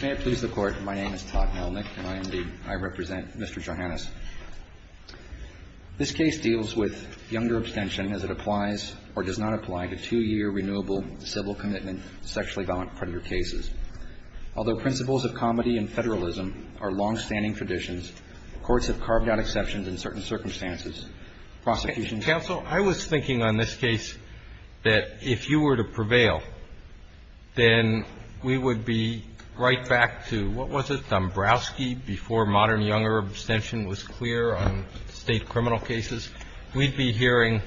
May it please the Court, my name is Todd Melnick and I represent Mr. Johannes. This case deals with younger abstention as it applies or does not apply to two-year renewable civil commitment sexually violent predator cases. Although principles of comedy and federalism are long-standing traditions, courts have carved out exceptions in certain circumstances. Prosecutions Counsel, I was thinking on this case that if you were to prevail, then we would be right back to, what was it, Dombrowski, before modern younger abstention was clear on state criminal cases. We'd be hearing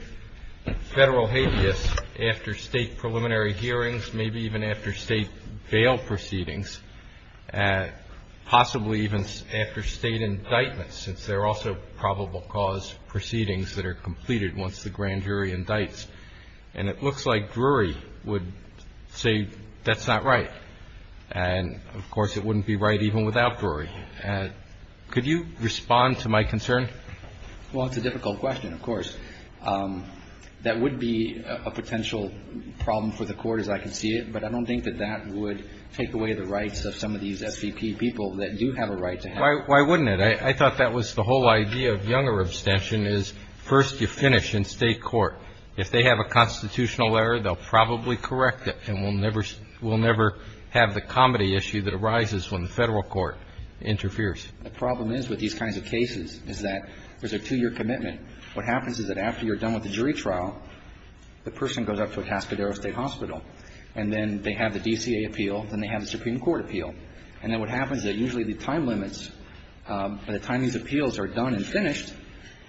federal habeas after state preliminary hearings, maybe even after state bail proceedings, possibly even after state indictments, since there are also probable cause proceedings that are completed once the grand jury indicts. And it looks like Drury would say that's not right. And, of course, it wouldn't be right even without Drury. Could you respond to my concern? Well, it's a difficult question, of course. That would be a potential problem for the Court, as I can see it, but I don't think that that would take away the rights of some of these SVP people that do have a right to have it. Why wouldn't it? I thought that was the whole idea of younger abstention is first you finish in state court. If they have a constitutional error, they'll probably correct it and we'll never have the comedy issue that arises when the federal court interferes. The problem is with these kinds of cases is that there's a two-year commitment. What happens is that after you're done with the jury trial, the person goes up to a Cascadero State Hospital, and then they have the DCA appeal, then they have the Supreme Court appeal. And then what happens is that usually the time limits, by the time these appeals are done and finished,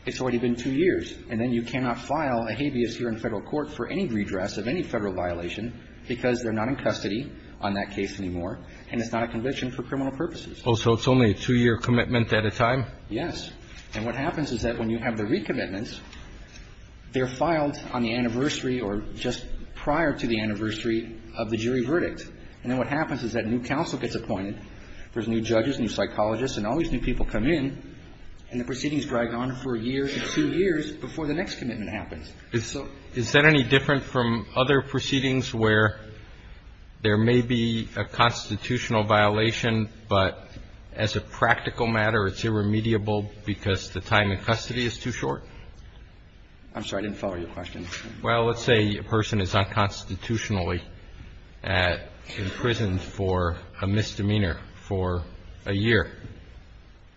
it's already been two years. And then you cannot file a habeas here in federal court for any redress of any federal violation because they're not in custody on that case anymore, and it's not a conviction for criminal purposes. Oh, so it's only a two-year commitment at a time? Yes. And what happens is that when you have the recommitments, they're filed on the anniversary or just prior to the anniversary of the jury verdict. And then what happens is that a new counsel gets appointed. There's new judges, new psychologists, and all these new people come in. And the proceedings drag on for a year to two years before the next commitment happens. Is that any different from other proceedings where there may be a constitutional violation, but as a practical matter, it's irremediable because the time in custody is too short? I'm sorry. I didn't follow your question. Well, let's say a person is unconstitutionally imprisoned for a misdemeanor for a year.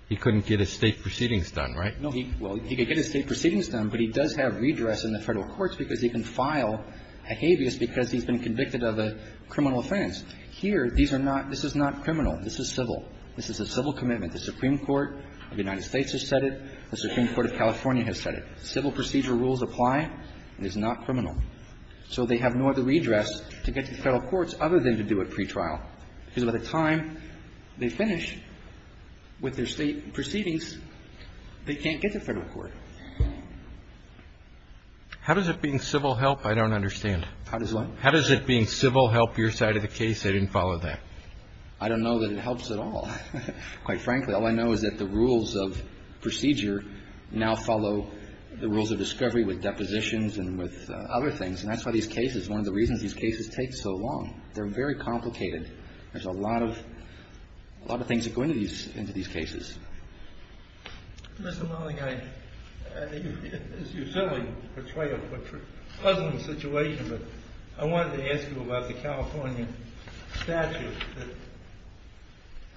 He couldn't get his state proceedings done, right? No. Well, he could get his state proceedings done, but he does have redress in the Federal Courts because he can file a habeas because he's been convicted of a criminal offense. Here, these are not – this is not criminal. This is civil. This is a civil commitment. The Supreme Court of the United States has said it. The Supreme Court of California has said it. Civil procedure rules apply. It is not criminal. So they have no other redress to get to the Federal Courts other than to do a pretrial because by the time they finish with their state proceedings, they can't get to Federal Court. How does it being civil help? I don't understand. How does what? How does it being civil help your side of the case? I didn't follow that. I don't know that it helps at all, quite frankly. All I know is that the rules of procedure now follow the rules of discovery with depositions and with other things, and that's why these cases – one of the reasons these cases take so long. They're very complicated. There's a lot of – a lot of things that go into these cases. Mr. Mulling, I – you certainly portray a pleasant situation, but I wanted to ask you about the California statute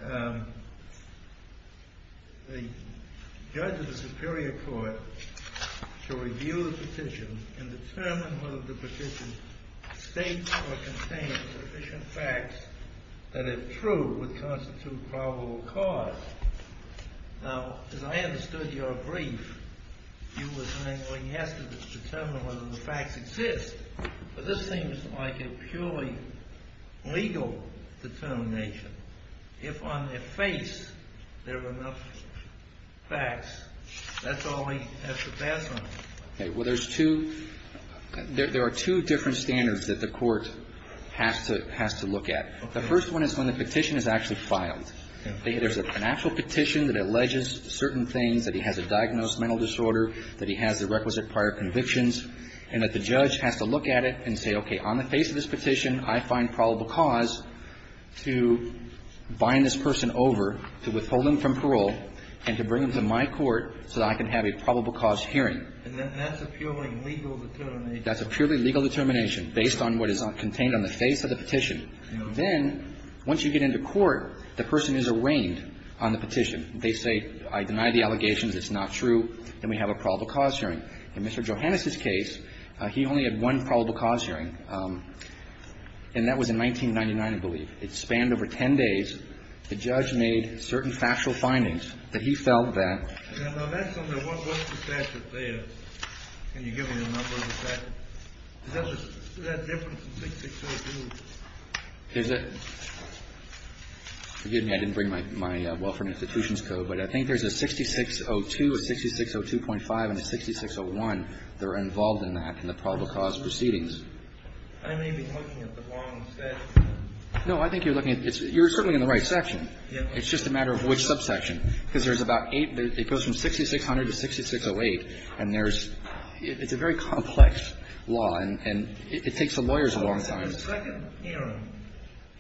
that the judge of the superior court shall review the petition and determine whether the petition states or contains sufficient facts that, if true, would constitute probable cause. Now, as I understood your brief, you were saying, well, he has to determine whether the facts exist, but this seems like a purely legal determination. If on their face there are enough facts, that's all he has to pass on. Okay. Well, there's two – there are two different standards that the court has to look at. The first one is when the petition is actually filed. There's an actual petition that alleges certain things, that he has a diagnosed mental disorder, that he has the requisite prior convictions, and that the judge has to look at it and say, okay, on the face of this petition, I find probable cause to bind this person over, to withhold him from parole, and to bring him to my court so that I can have a probable cause hearing. And that's a purely legal determination. That's a purely legal determination, based on what is contained on the face of the petition. Then, once you get into court, the person is arraigned on the petition. They say, I deny the allegations, it's not true, and we have a probable cause hearing. In Mr. Johannes' case, he only had one probable cause hearing, and that was in 1999, I believe. It spanned over 10 days. The judge made certain factual findings that he felt that – Now, that's on the welfare statute there. Can you give me the number of the statute? Is that different from 6602? Is it? Forgive me. I didn't bring my Welfare and Institutions Code, but I think there's a 6602, a 6602.5, and a 6601 that are involved in that, in the probable cause proceedings. I may be looking at the wrong statute. No, I think you're looking at – you're certainly in the right section. It's just a matter of which subsection. Because there's about eight – it goes from 6600 to 6608, and there's – it's a very complex law, and it takes the lawyers a long time. So in the second hearing,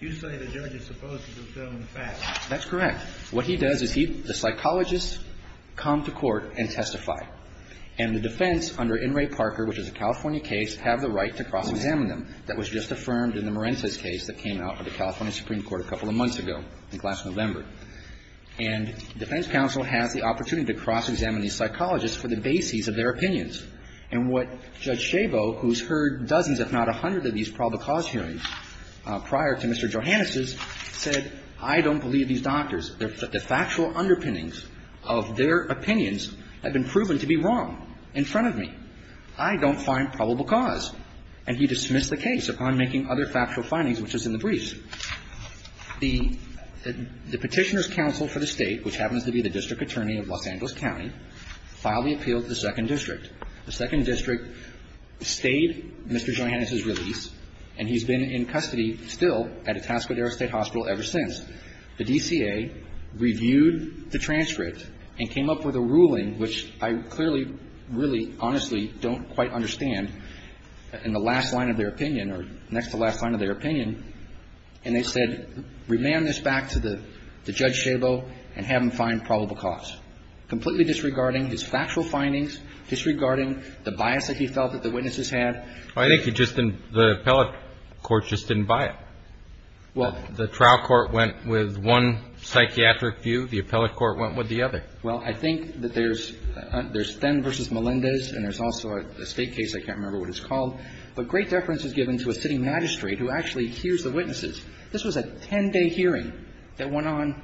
you say the judge is supposed to confirm the facts. That's correct. What he does is he – the psychologists come to court and testify. And the defense under In re Parker, which is a California case, have the right to cross-examine them. That was just affirmed in the Marentes case that came out of the California Supreme Court a couple of months ago, I think last November. And defense counsel has the opportunity to cross-examine these psychologists for the bases of their opinions. And what Judge Chabot, who's heard dozens if not a hundred of these probable cause hearings prior to Mr. Johannes's, said, I don't believe these doctors. The factual underpinnings of their opinions have been proven to be wrong in front of me. I don't find probable cause. And he dismissed the case upon making other factual findings, which is in the briefs. The Petitioner's Counsel for the State, which happens to be the district attorney of Los Angeles County, filed the appeal to the Second District. The Second District stayed Mr. Johannes's release, and he's been in custody still at Itasca Dere State Hospital ever since. The DCA reviewed the transcript and came up with a ruling, which I clearly really honestly don't quite understand, in the last line of their opinion or next to the last line of their opinion. And they said, remand this back to the Judge Chabot and have him find probable cause. Completely disregarding his factual findings, disregarding the bias that he felt that the witnesses had. Well, I think he just didn't the appellate court just didn't buy it. Well. The trial court went with one psychiatric view. The appellate court went with the other. Well, I think that there's Thenn v. Melendez, and there's also a State case. I can't remember what it's called. But great deference was given to a city magistrate who actually hears the witnesses. This was a 10-day hearing that went on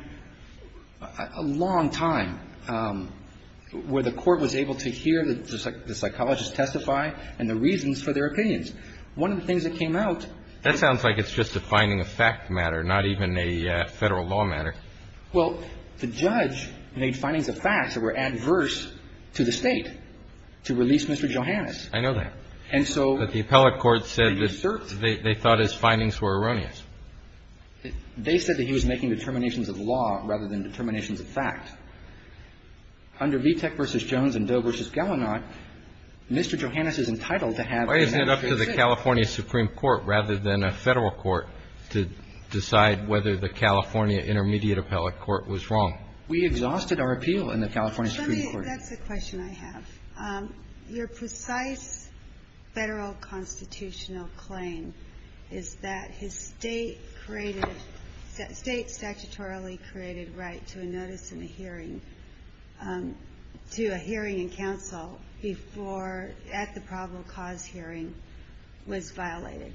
a long time, where the court was able to hear the psychologists testify and the reasons for their opinions. One of the things that came out. That sounds like it's just a finding of fact matter, not even a Federal law matter. Well, the judge made findings of facts that were adverse to the State to release Mr. Johannes. I know that. And so. But the appellate court said that they thought his findings were erroneous. They said that he was making determinations of law rather than determinations of fact. Under Vitek v. Jones and Doe v. Gallinott, Mr. Johannes is entitled to have the United States. Why isn't it up to the California Supreme Court rather than a Federal court to decide whether the California Intermediate Appellate Court was wrong? We exhausted our appeal in the California Supreme Court. That's a question I have. Your precise Federal constitutional claim is that his State-created, State statutorily created right to a notice in a hearing, to a hearing in counsel before at the probable cause hearing was violated.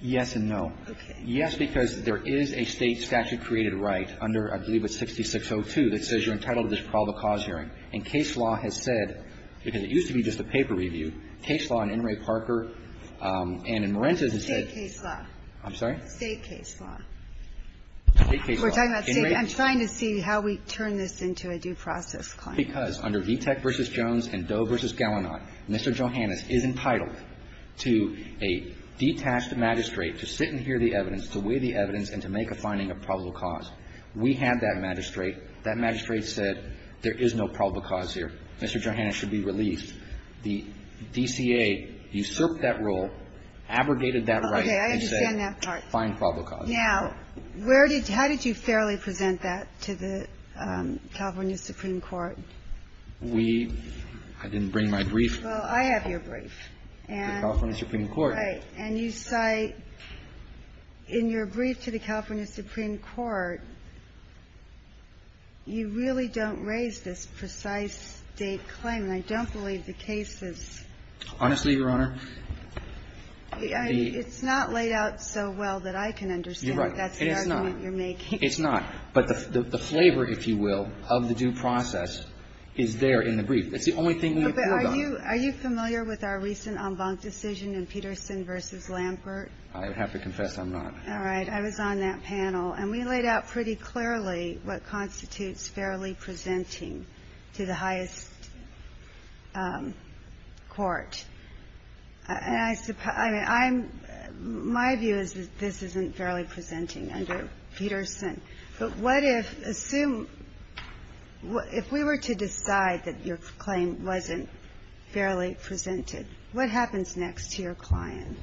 Yes and no. Okay. Yes, because there is a State statute-created right under, I believe it's 6602, that says you're entitled to this probable cause hearing. And case law has said, because it used to be just a paper review, case law in In re Parker and in Marentis has said. State case law. I'm sorry? State case law. State case law. We're talking about State. I'm trying to see how we turn this into a due process claim. Because under Vitek v. Jones and Doe v. Gallinott, Mr. Johannes is entitled to a detached magistrate to sit and hear the evidence, to weigh the evidence, and to make a finding of probable cause. We have that magistrate. That magistrate said, there is no probable cause here. Mr. Johannes should be released. The DCA usurped that rule, abrogated that right. Okay. I understand that part. And said, find probable cause. Now, where did you – how did you fairly present that to the California Supreme Court? We – I didn't bring my brief. Well, I have your brief. The California Supreme Court. Right. And you cite, in your brief to the California Supreme Court, you really don't raise this precise State claim. And I don't believe the case is – Honestly, Your Honor, the – It's not laid out so well that I can understand that that's the argument you're making. It's not. But the flavor, if you will, of the due process is there in the brief. It's the only thing we've pulled on. Are you familiar with our recent en banc decision in Peterson v. Lampert? I have to confess I'm not. All right. I was on that panel. And we laid out pretty clearly what constitutes fairly presenting to the highest court. And I – I mean, I'm – my view is that this isn't fairly presenting under Peterson. But what if – assume – if we were to decide that your claim wasn't fairly presented, what happens next to your client?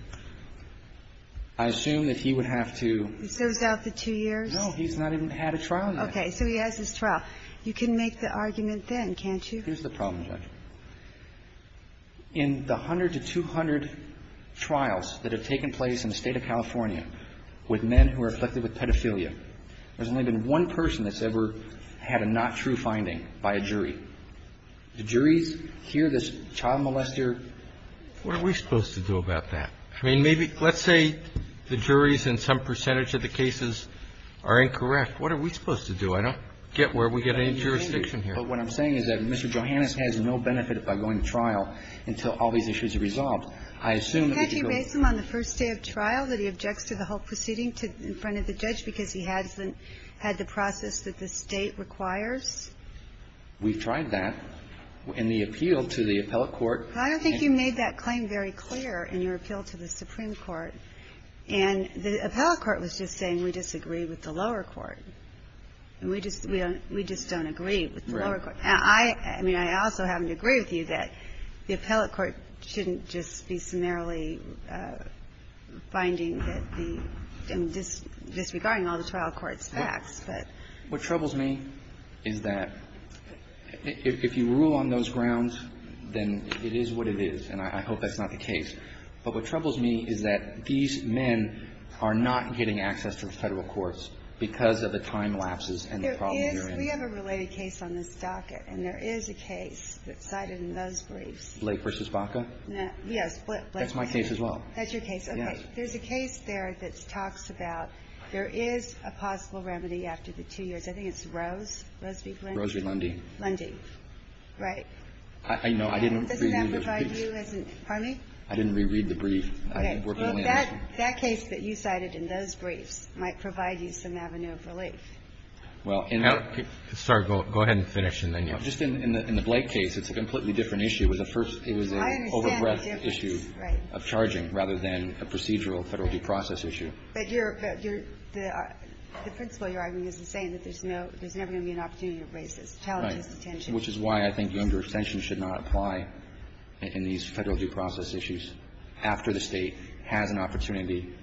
I assume that he would have to – He serves out the two years? No. He's not even had a trial in that case. Okay. So he has his trial. You can make the argument then, can't you? Here's the problem, Judge. In the 100 to 200 trials that have taken place in the State of California with men who are afflicted with pedophilia, there's only been one person that's ever had a not true finding by a jury. The juries hear this child molester. What are we supposed to do about that? I mean, maybe – let's say the juries in some percentage of the cases are incorrect. What are we supposed to do? I don't get where we get any jurisdiction here. But what I'm saying is that Mr. Johannes has no benefit by going to trial until all these issues are resolved. I assume that if you go – Can't you base him on the first day of trial that he objects to the whole proceeding in front of the judge because he hasn't had the process that the State requires? We've tried that in the appeal to the appellate court. I don't think you made that claim very clear in your appeal to the Supreme Court. And the appellate court was just saying we disagree with the lower court. We just don't agree with the lower court. Right. And I – I mean, I also happen to agree with you that the appellate court shouldn't just be summarily finding that the – I mean, disregarding all the trial court's facts, but – What troubles me is that if you rule on those grounds, then it is what it is. And I hope that's not the case. But what troubles me is that these men are not getting access to the Federal courts because of the time lapses and the problems they're in. We have a related case on this docket. And there is a case that's cited in those briefs. Blake v. Baca? Yes. That's my case as well. That's your case? Yes. Okay. There's a case there that talks about there is a possible remedy after the two years. I think it's Rose? Rose v. Lundy. Rose v. Lundy. Lundy. Right. I know. I didn't reread the brief. Does that provide you as an – pardon me? I didn't reread the brief. Okay. Well, that case that you cited in those briefs might provide you some avenue of relief. Well, in that – Sorry. Go ahead and finish, and then you'll – Just in the Blake case, it's a completely different issue. It was a first – it was an over-breadth issue of charging rather than a procedural Federal due process issue. But you're – the principle you're arguing is the same, that there's no – there's never going to be an opportunity to raise this. The challenge is detention. Right. Which is why I think younger extensions should not apply in these Federal due process issues after the State has an opportunity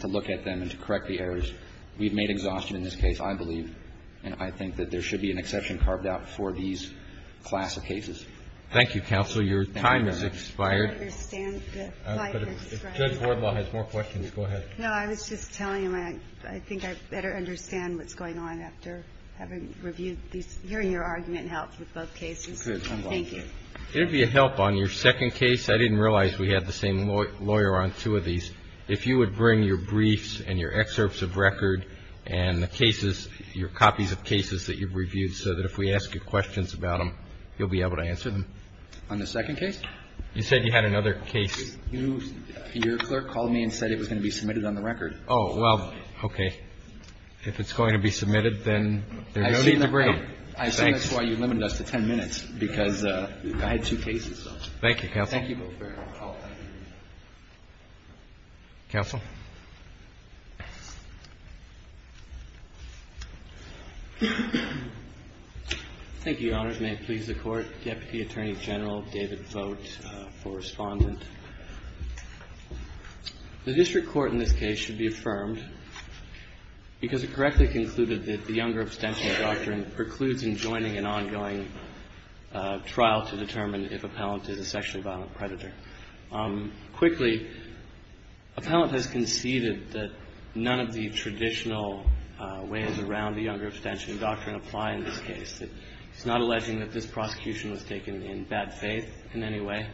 to look at them and to correct the errors. We've made exhaustion in this case. I believe and I think that there should be an exception carved out for these class of cases. Thank you, counsel. Your time has expired. I understand that. If Judge Wardlaw has more questions, go ahead. No, I was just telling him I think I better understand what's going on after having reviewed these – hearing your argument helped with both cases. Good. Thank you. It would be a help on your second case. I didn't realize we had the same lawyer on two of these. If you would bring your briefs and your excerpts of record and the cases – your copies of cases that you've reviewed so that if we ask you questions about them, you'll be able to answer them. On the second case? You said you had another case. Your clerk called me and said it was going to be submitted on the record. Oh. Well, okay. If it's going to be submitted, then there's no need to bring them. I assume that's why you limited us to 10 minutes, because I had two cases. Thank you, counsel. Thank you both very much. I'll take a brief break. Counsel. Thank you, Your Honors. May it please the Court. Deputy Attorney General David Vogt for respondent. The district court in this case should be affirmed because it correctly concluded that the younger abstention doctrine precludes enjoining an ongoing trial to determine if appellant is a sexually violent predator. Quickly, appellant has conceded that none of the traditional ways around the younger abstention doctrine apply in this case. He's not alleging that this prosecution was taken in bad faith in any way.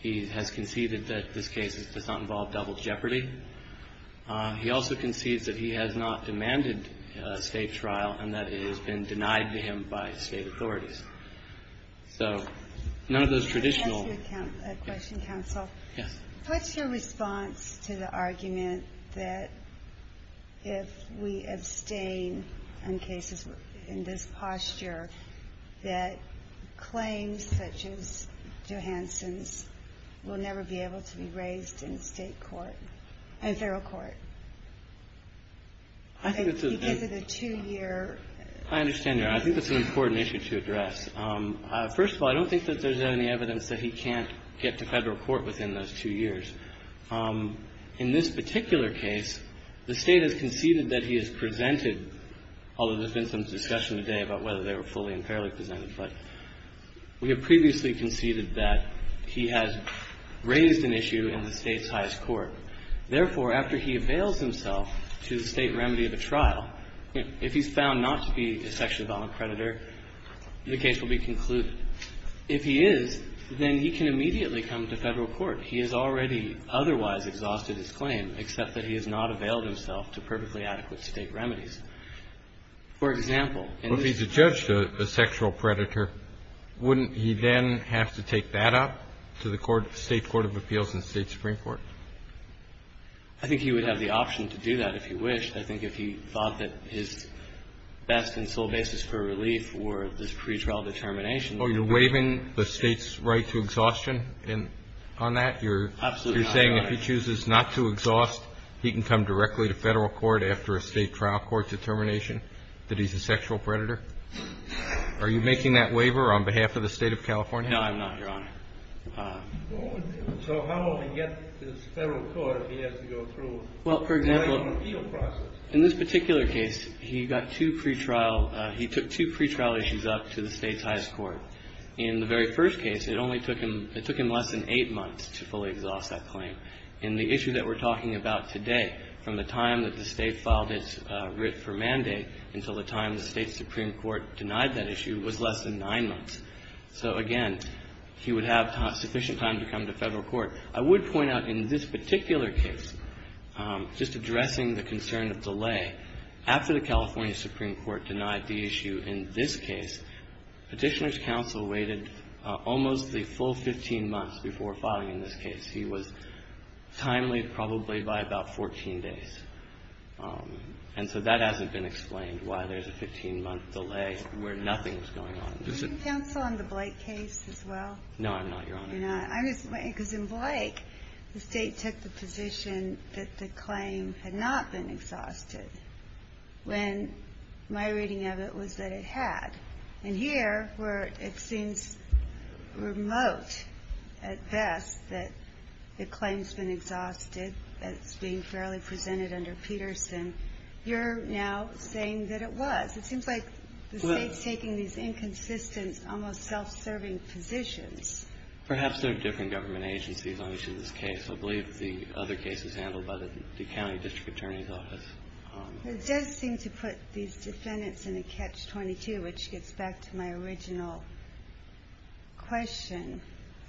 He has conceded that this case does not involve double jeopardy. He also concedes that he has not demanded a state trial and that it has been denied to him by state authorities. So none of those traditional... Can I ask you a question, Counsel? Yes. What's your response to the argument that if we abstain on cases in this posture, that claims such as Johansson's will never be able to be raised in state court, in federal court? I think that's a... Because of the two-year... I understand, Your Honor. I think that's an important issue to address. First of all, I don't think that there's any evidence that he can't get to federal court within those two years. In this particular case, the State has conceded that he has presented, although there's been some discussion today about whether they were fully and fairly presented, but we have previously conceded that he has raised an issue in the State's highest court. Therefore, after he avails himself to the State remedy of a trial, if he's found not to be a sexually violent predator, the case will be concluded. If he is, then he can immediately come to federal court. He has already otherwise exhausted his claim, except that he has not availed himself to perfectly adequate State remedies. For example... If he's a judge to a sexual predator, wouldn't he then have to take that up to the court of appeals in the State Supreme Court? I think he would have the option to do that if he wished. I think if he thought that his best and sole basis for relief were this pretrial determination... Oh, you're waiving the State's right to exhaustion on that? Absolutely not, Your Honor. You're saying if he chooses not to exhaust, he can come directly to federal court after a State trial court determination that he's a sexual predator? Are you making that waiver on behalf of the State of California? No, I'm not, Your Honor. So how will he get to the federal court if he has to go through an appeal process? Well, for example, in this particular case, he got two pretrial – he took two pretrial issues up to the State's highest court. In the very first case, it only took him – it took him less than eight months to fully exhaust that claim. In the issue that we're talking about today, from the time that the State filed its writ for mandate until the time the State Supreme Court denied that issue was less than nine months. So, again, he would have sufficient time to come to federal court. I would point out in this particular case, just addressing the concern of delay, after the California Supreme Court denied the issue in this case, Petitioner's counsel waited almost the full 15 months before filing in this case. He was timely probably by about 14 days. And so that hasn't been explained why there's a 15-month delay where nothing's going on. Can you counsel on the Blake case as well? No, I'm not, Your Honor. You're not? Because in Blake, the State took the position that the claim had not been exhausted when my reading of it was that it had. And here, where it seems remote at best that the claim's been exhausted, that it's being fairly presented under Peterson, you're now saying that it was. It seems like the State's taking these inconsistent, almost self-serving positions. Perhaps there are different government agencies on each of these cases. I believe the other case is handled by the county district attorney's office. It does seem to put these defendants in a catch-22, which gets back to my original question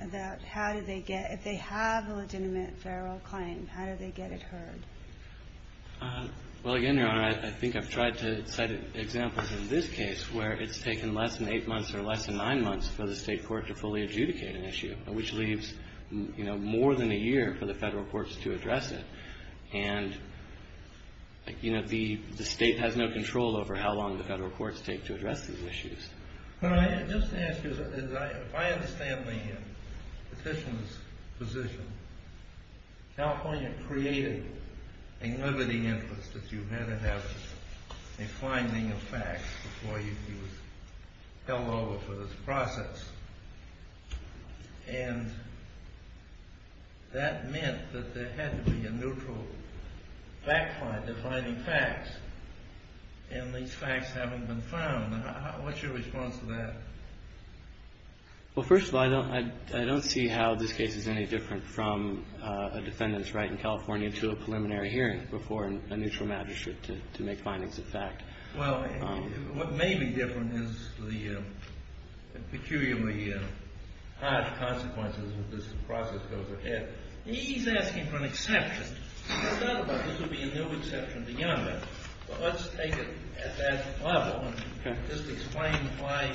about how do they get – if they have a legitimate federal claim, how do they get it heard? Well, again, Your Honor, I think I've tried to cite examples in this case where it's taken less than eight months or less than nine months for the State court to fully adjudicate an issue, which leaves, you know, more than a year for the federal courts to address it. And, you know, the State has no control over how long the federal courts take to address these issues. Just to ask you, if I understand the Petitioner's position, California created a liberty interest that you had to have a finding of facts before you were held over for this process, and that meant that there had to be a neutral back line defining facts, and these facts haven't been found. What's your response to that? Well, first of all, I don't see how this case is any different from a defendant's right in California to a preliminary hearing before a neutral magistrate to make findings of fact. Well, what may be different is the peculiarly hard consequences that this process goes ahead. He's asking for an exception. Well, let's take it at that level and just explain why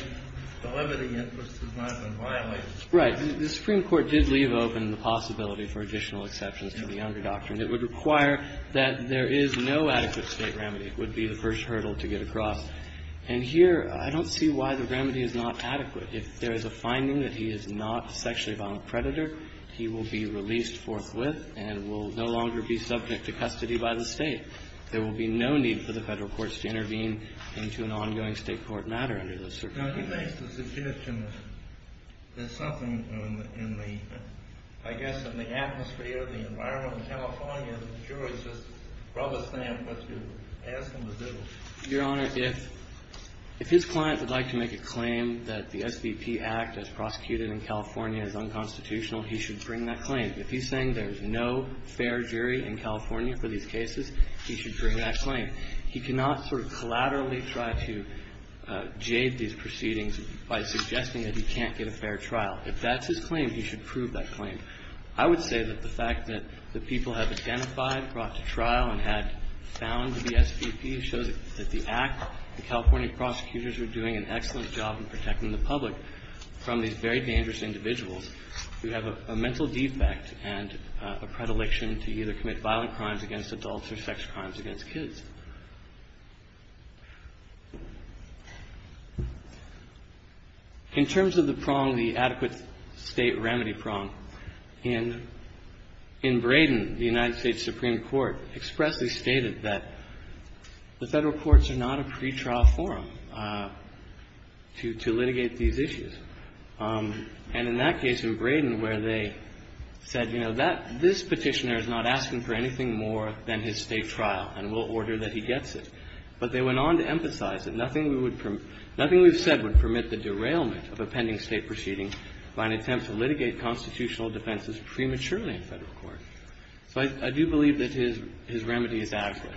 the liberty interest has not been violated. Right. The Supreme Court did leave open the possibility for additional exceptions to the under doctrine. It would require that there is no adequate State remedy. It would be the first hurdle to get across. And here, I don't see why the remedy is not adequate. If there is a finding that he is not a sexually violent predator, he will be released forthwith and will no longer be subject to custody by the State. There will be no need for the Federal courts to intervene into an ongoing State court matter under the circuit. Now, you make the suggestion that something in the, I guess, in the atmosphere, the environment in California, the jurors just rub a stamp. Let's just ask them to do it. Your Honor, if his client would like to make a claim that the SBP Act, as prosecuted in California, is unconstitutional, he should bring that claim. If he is saying there is no fair jury in California for these cases, he should bring that claim. He cannot sort of collaterally try to jade these proceedings by suggesting that he can't get a fair trial. If that's his claim, he should prove that claim. I would say that the fact that the people have identified, brought to trial, and had found the SBP shows that the Act, the California prosecutors are doing an excellent job in protecting the public from these very dangerous individuals who have a mental defect and a predilection to either commit violent crimes against adults or sex crimes against kids. In terms of the prong, the adequate State remedy prong, in Braden, the United States Supreme Court expressly stated that the Federal courts are not a pretrial forum to litigate these issues. And in that case in Braden, where they said, you know, that this Petitioner is not asking for anything more than his State trial, and we'll order that he gets it. But they went on to emphasize that nothing we would permit the derailment of a pending State proceeding by an attempt to litigate constitutional defenses prematurely in Federal court. So I do believe that his remedy is adequate.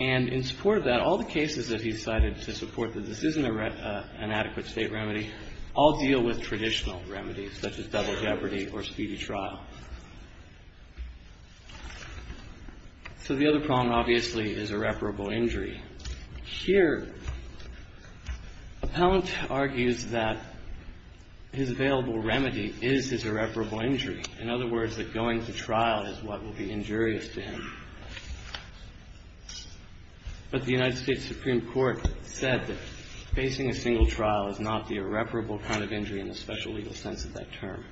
And in support of that, all the cases that he cited to support that this isn't a remedy or an adequate State remedy all deal with traditional remedies, such as double jeopardy or speedy trial. So the other prong, obviously, is irreparable injury. Here, Appellant argues that his available remedy is his irreparable injury. In other words, that going to trial is what will be injurious to him. But the United States Supreme Court said that facing a single trial is not the irreparable kind of injury in the special legal sense of that term.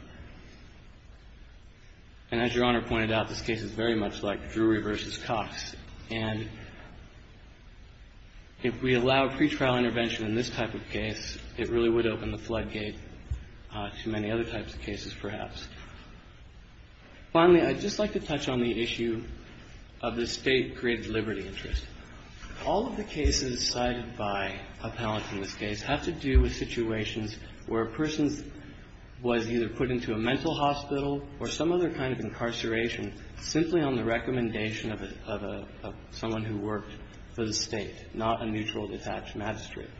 And as Your Honor pointed out, this case is very much like Drury v. Cox. And if we allow pretrial intervention in this type of case, it really would open the Finally, I'd just like to touch on the issue of the State-created liberty interest. All of the cases cited by Appellant in this case have to do with situations where a person was either put into a mental hospital or some other kind of incarceration simply on the recommendation of a — of someone who worked for the State, not a neutral, detached magistrate.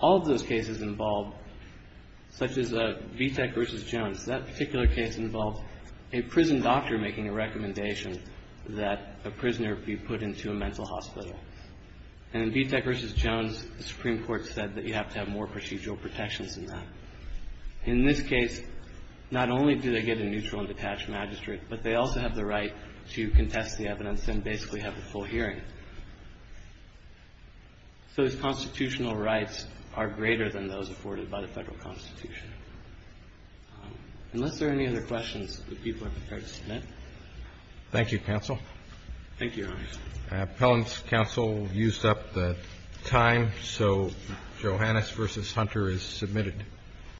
All of those cases involved, such as Vitek v. Jones, that particular case involved a prison doctor making a recommendation that a prisoner be put into a mental hospital. And in Vitek v. Jones, the Supreme Court said that you have to have more procedural protections than that. In this case, not only do they get a neutral and detached magistrate, but they also have the right to contest the evidence and basically have a full hearing. So these constitutional rights are greater than those afforded by the Federal Constitution. Unless there are any other questions, would people be prepared to submit? Thank you, Counsel. Thank you, Your Honor. Appellant's counsel used up the time, so Johannes v. Hunter is submitted.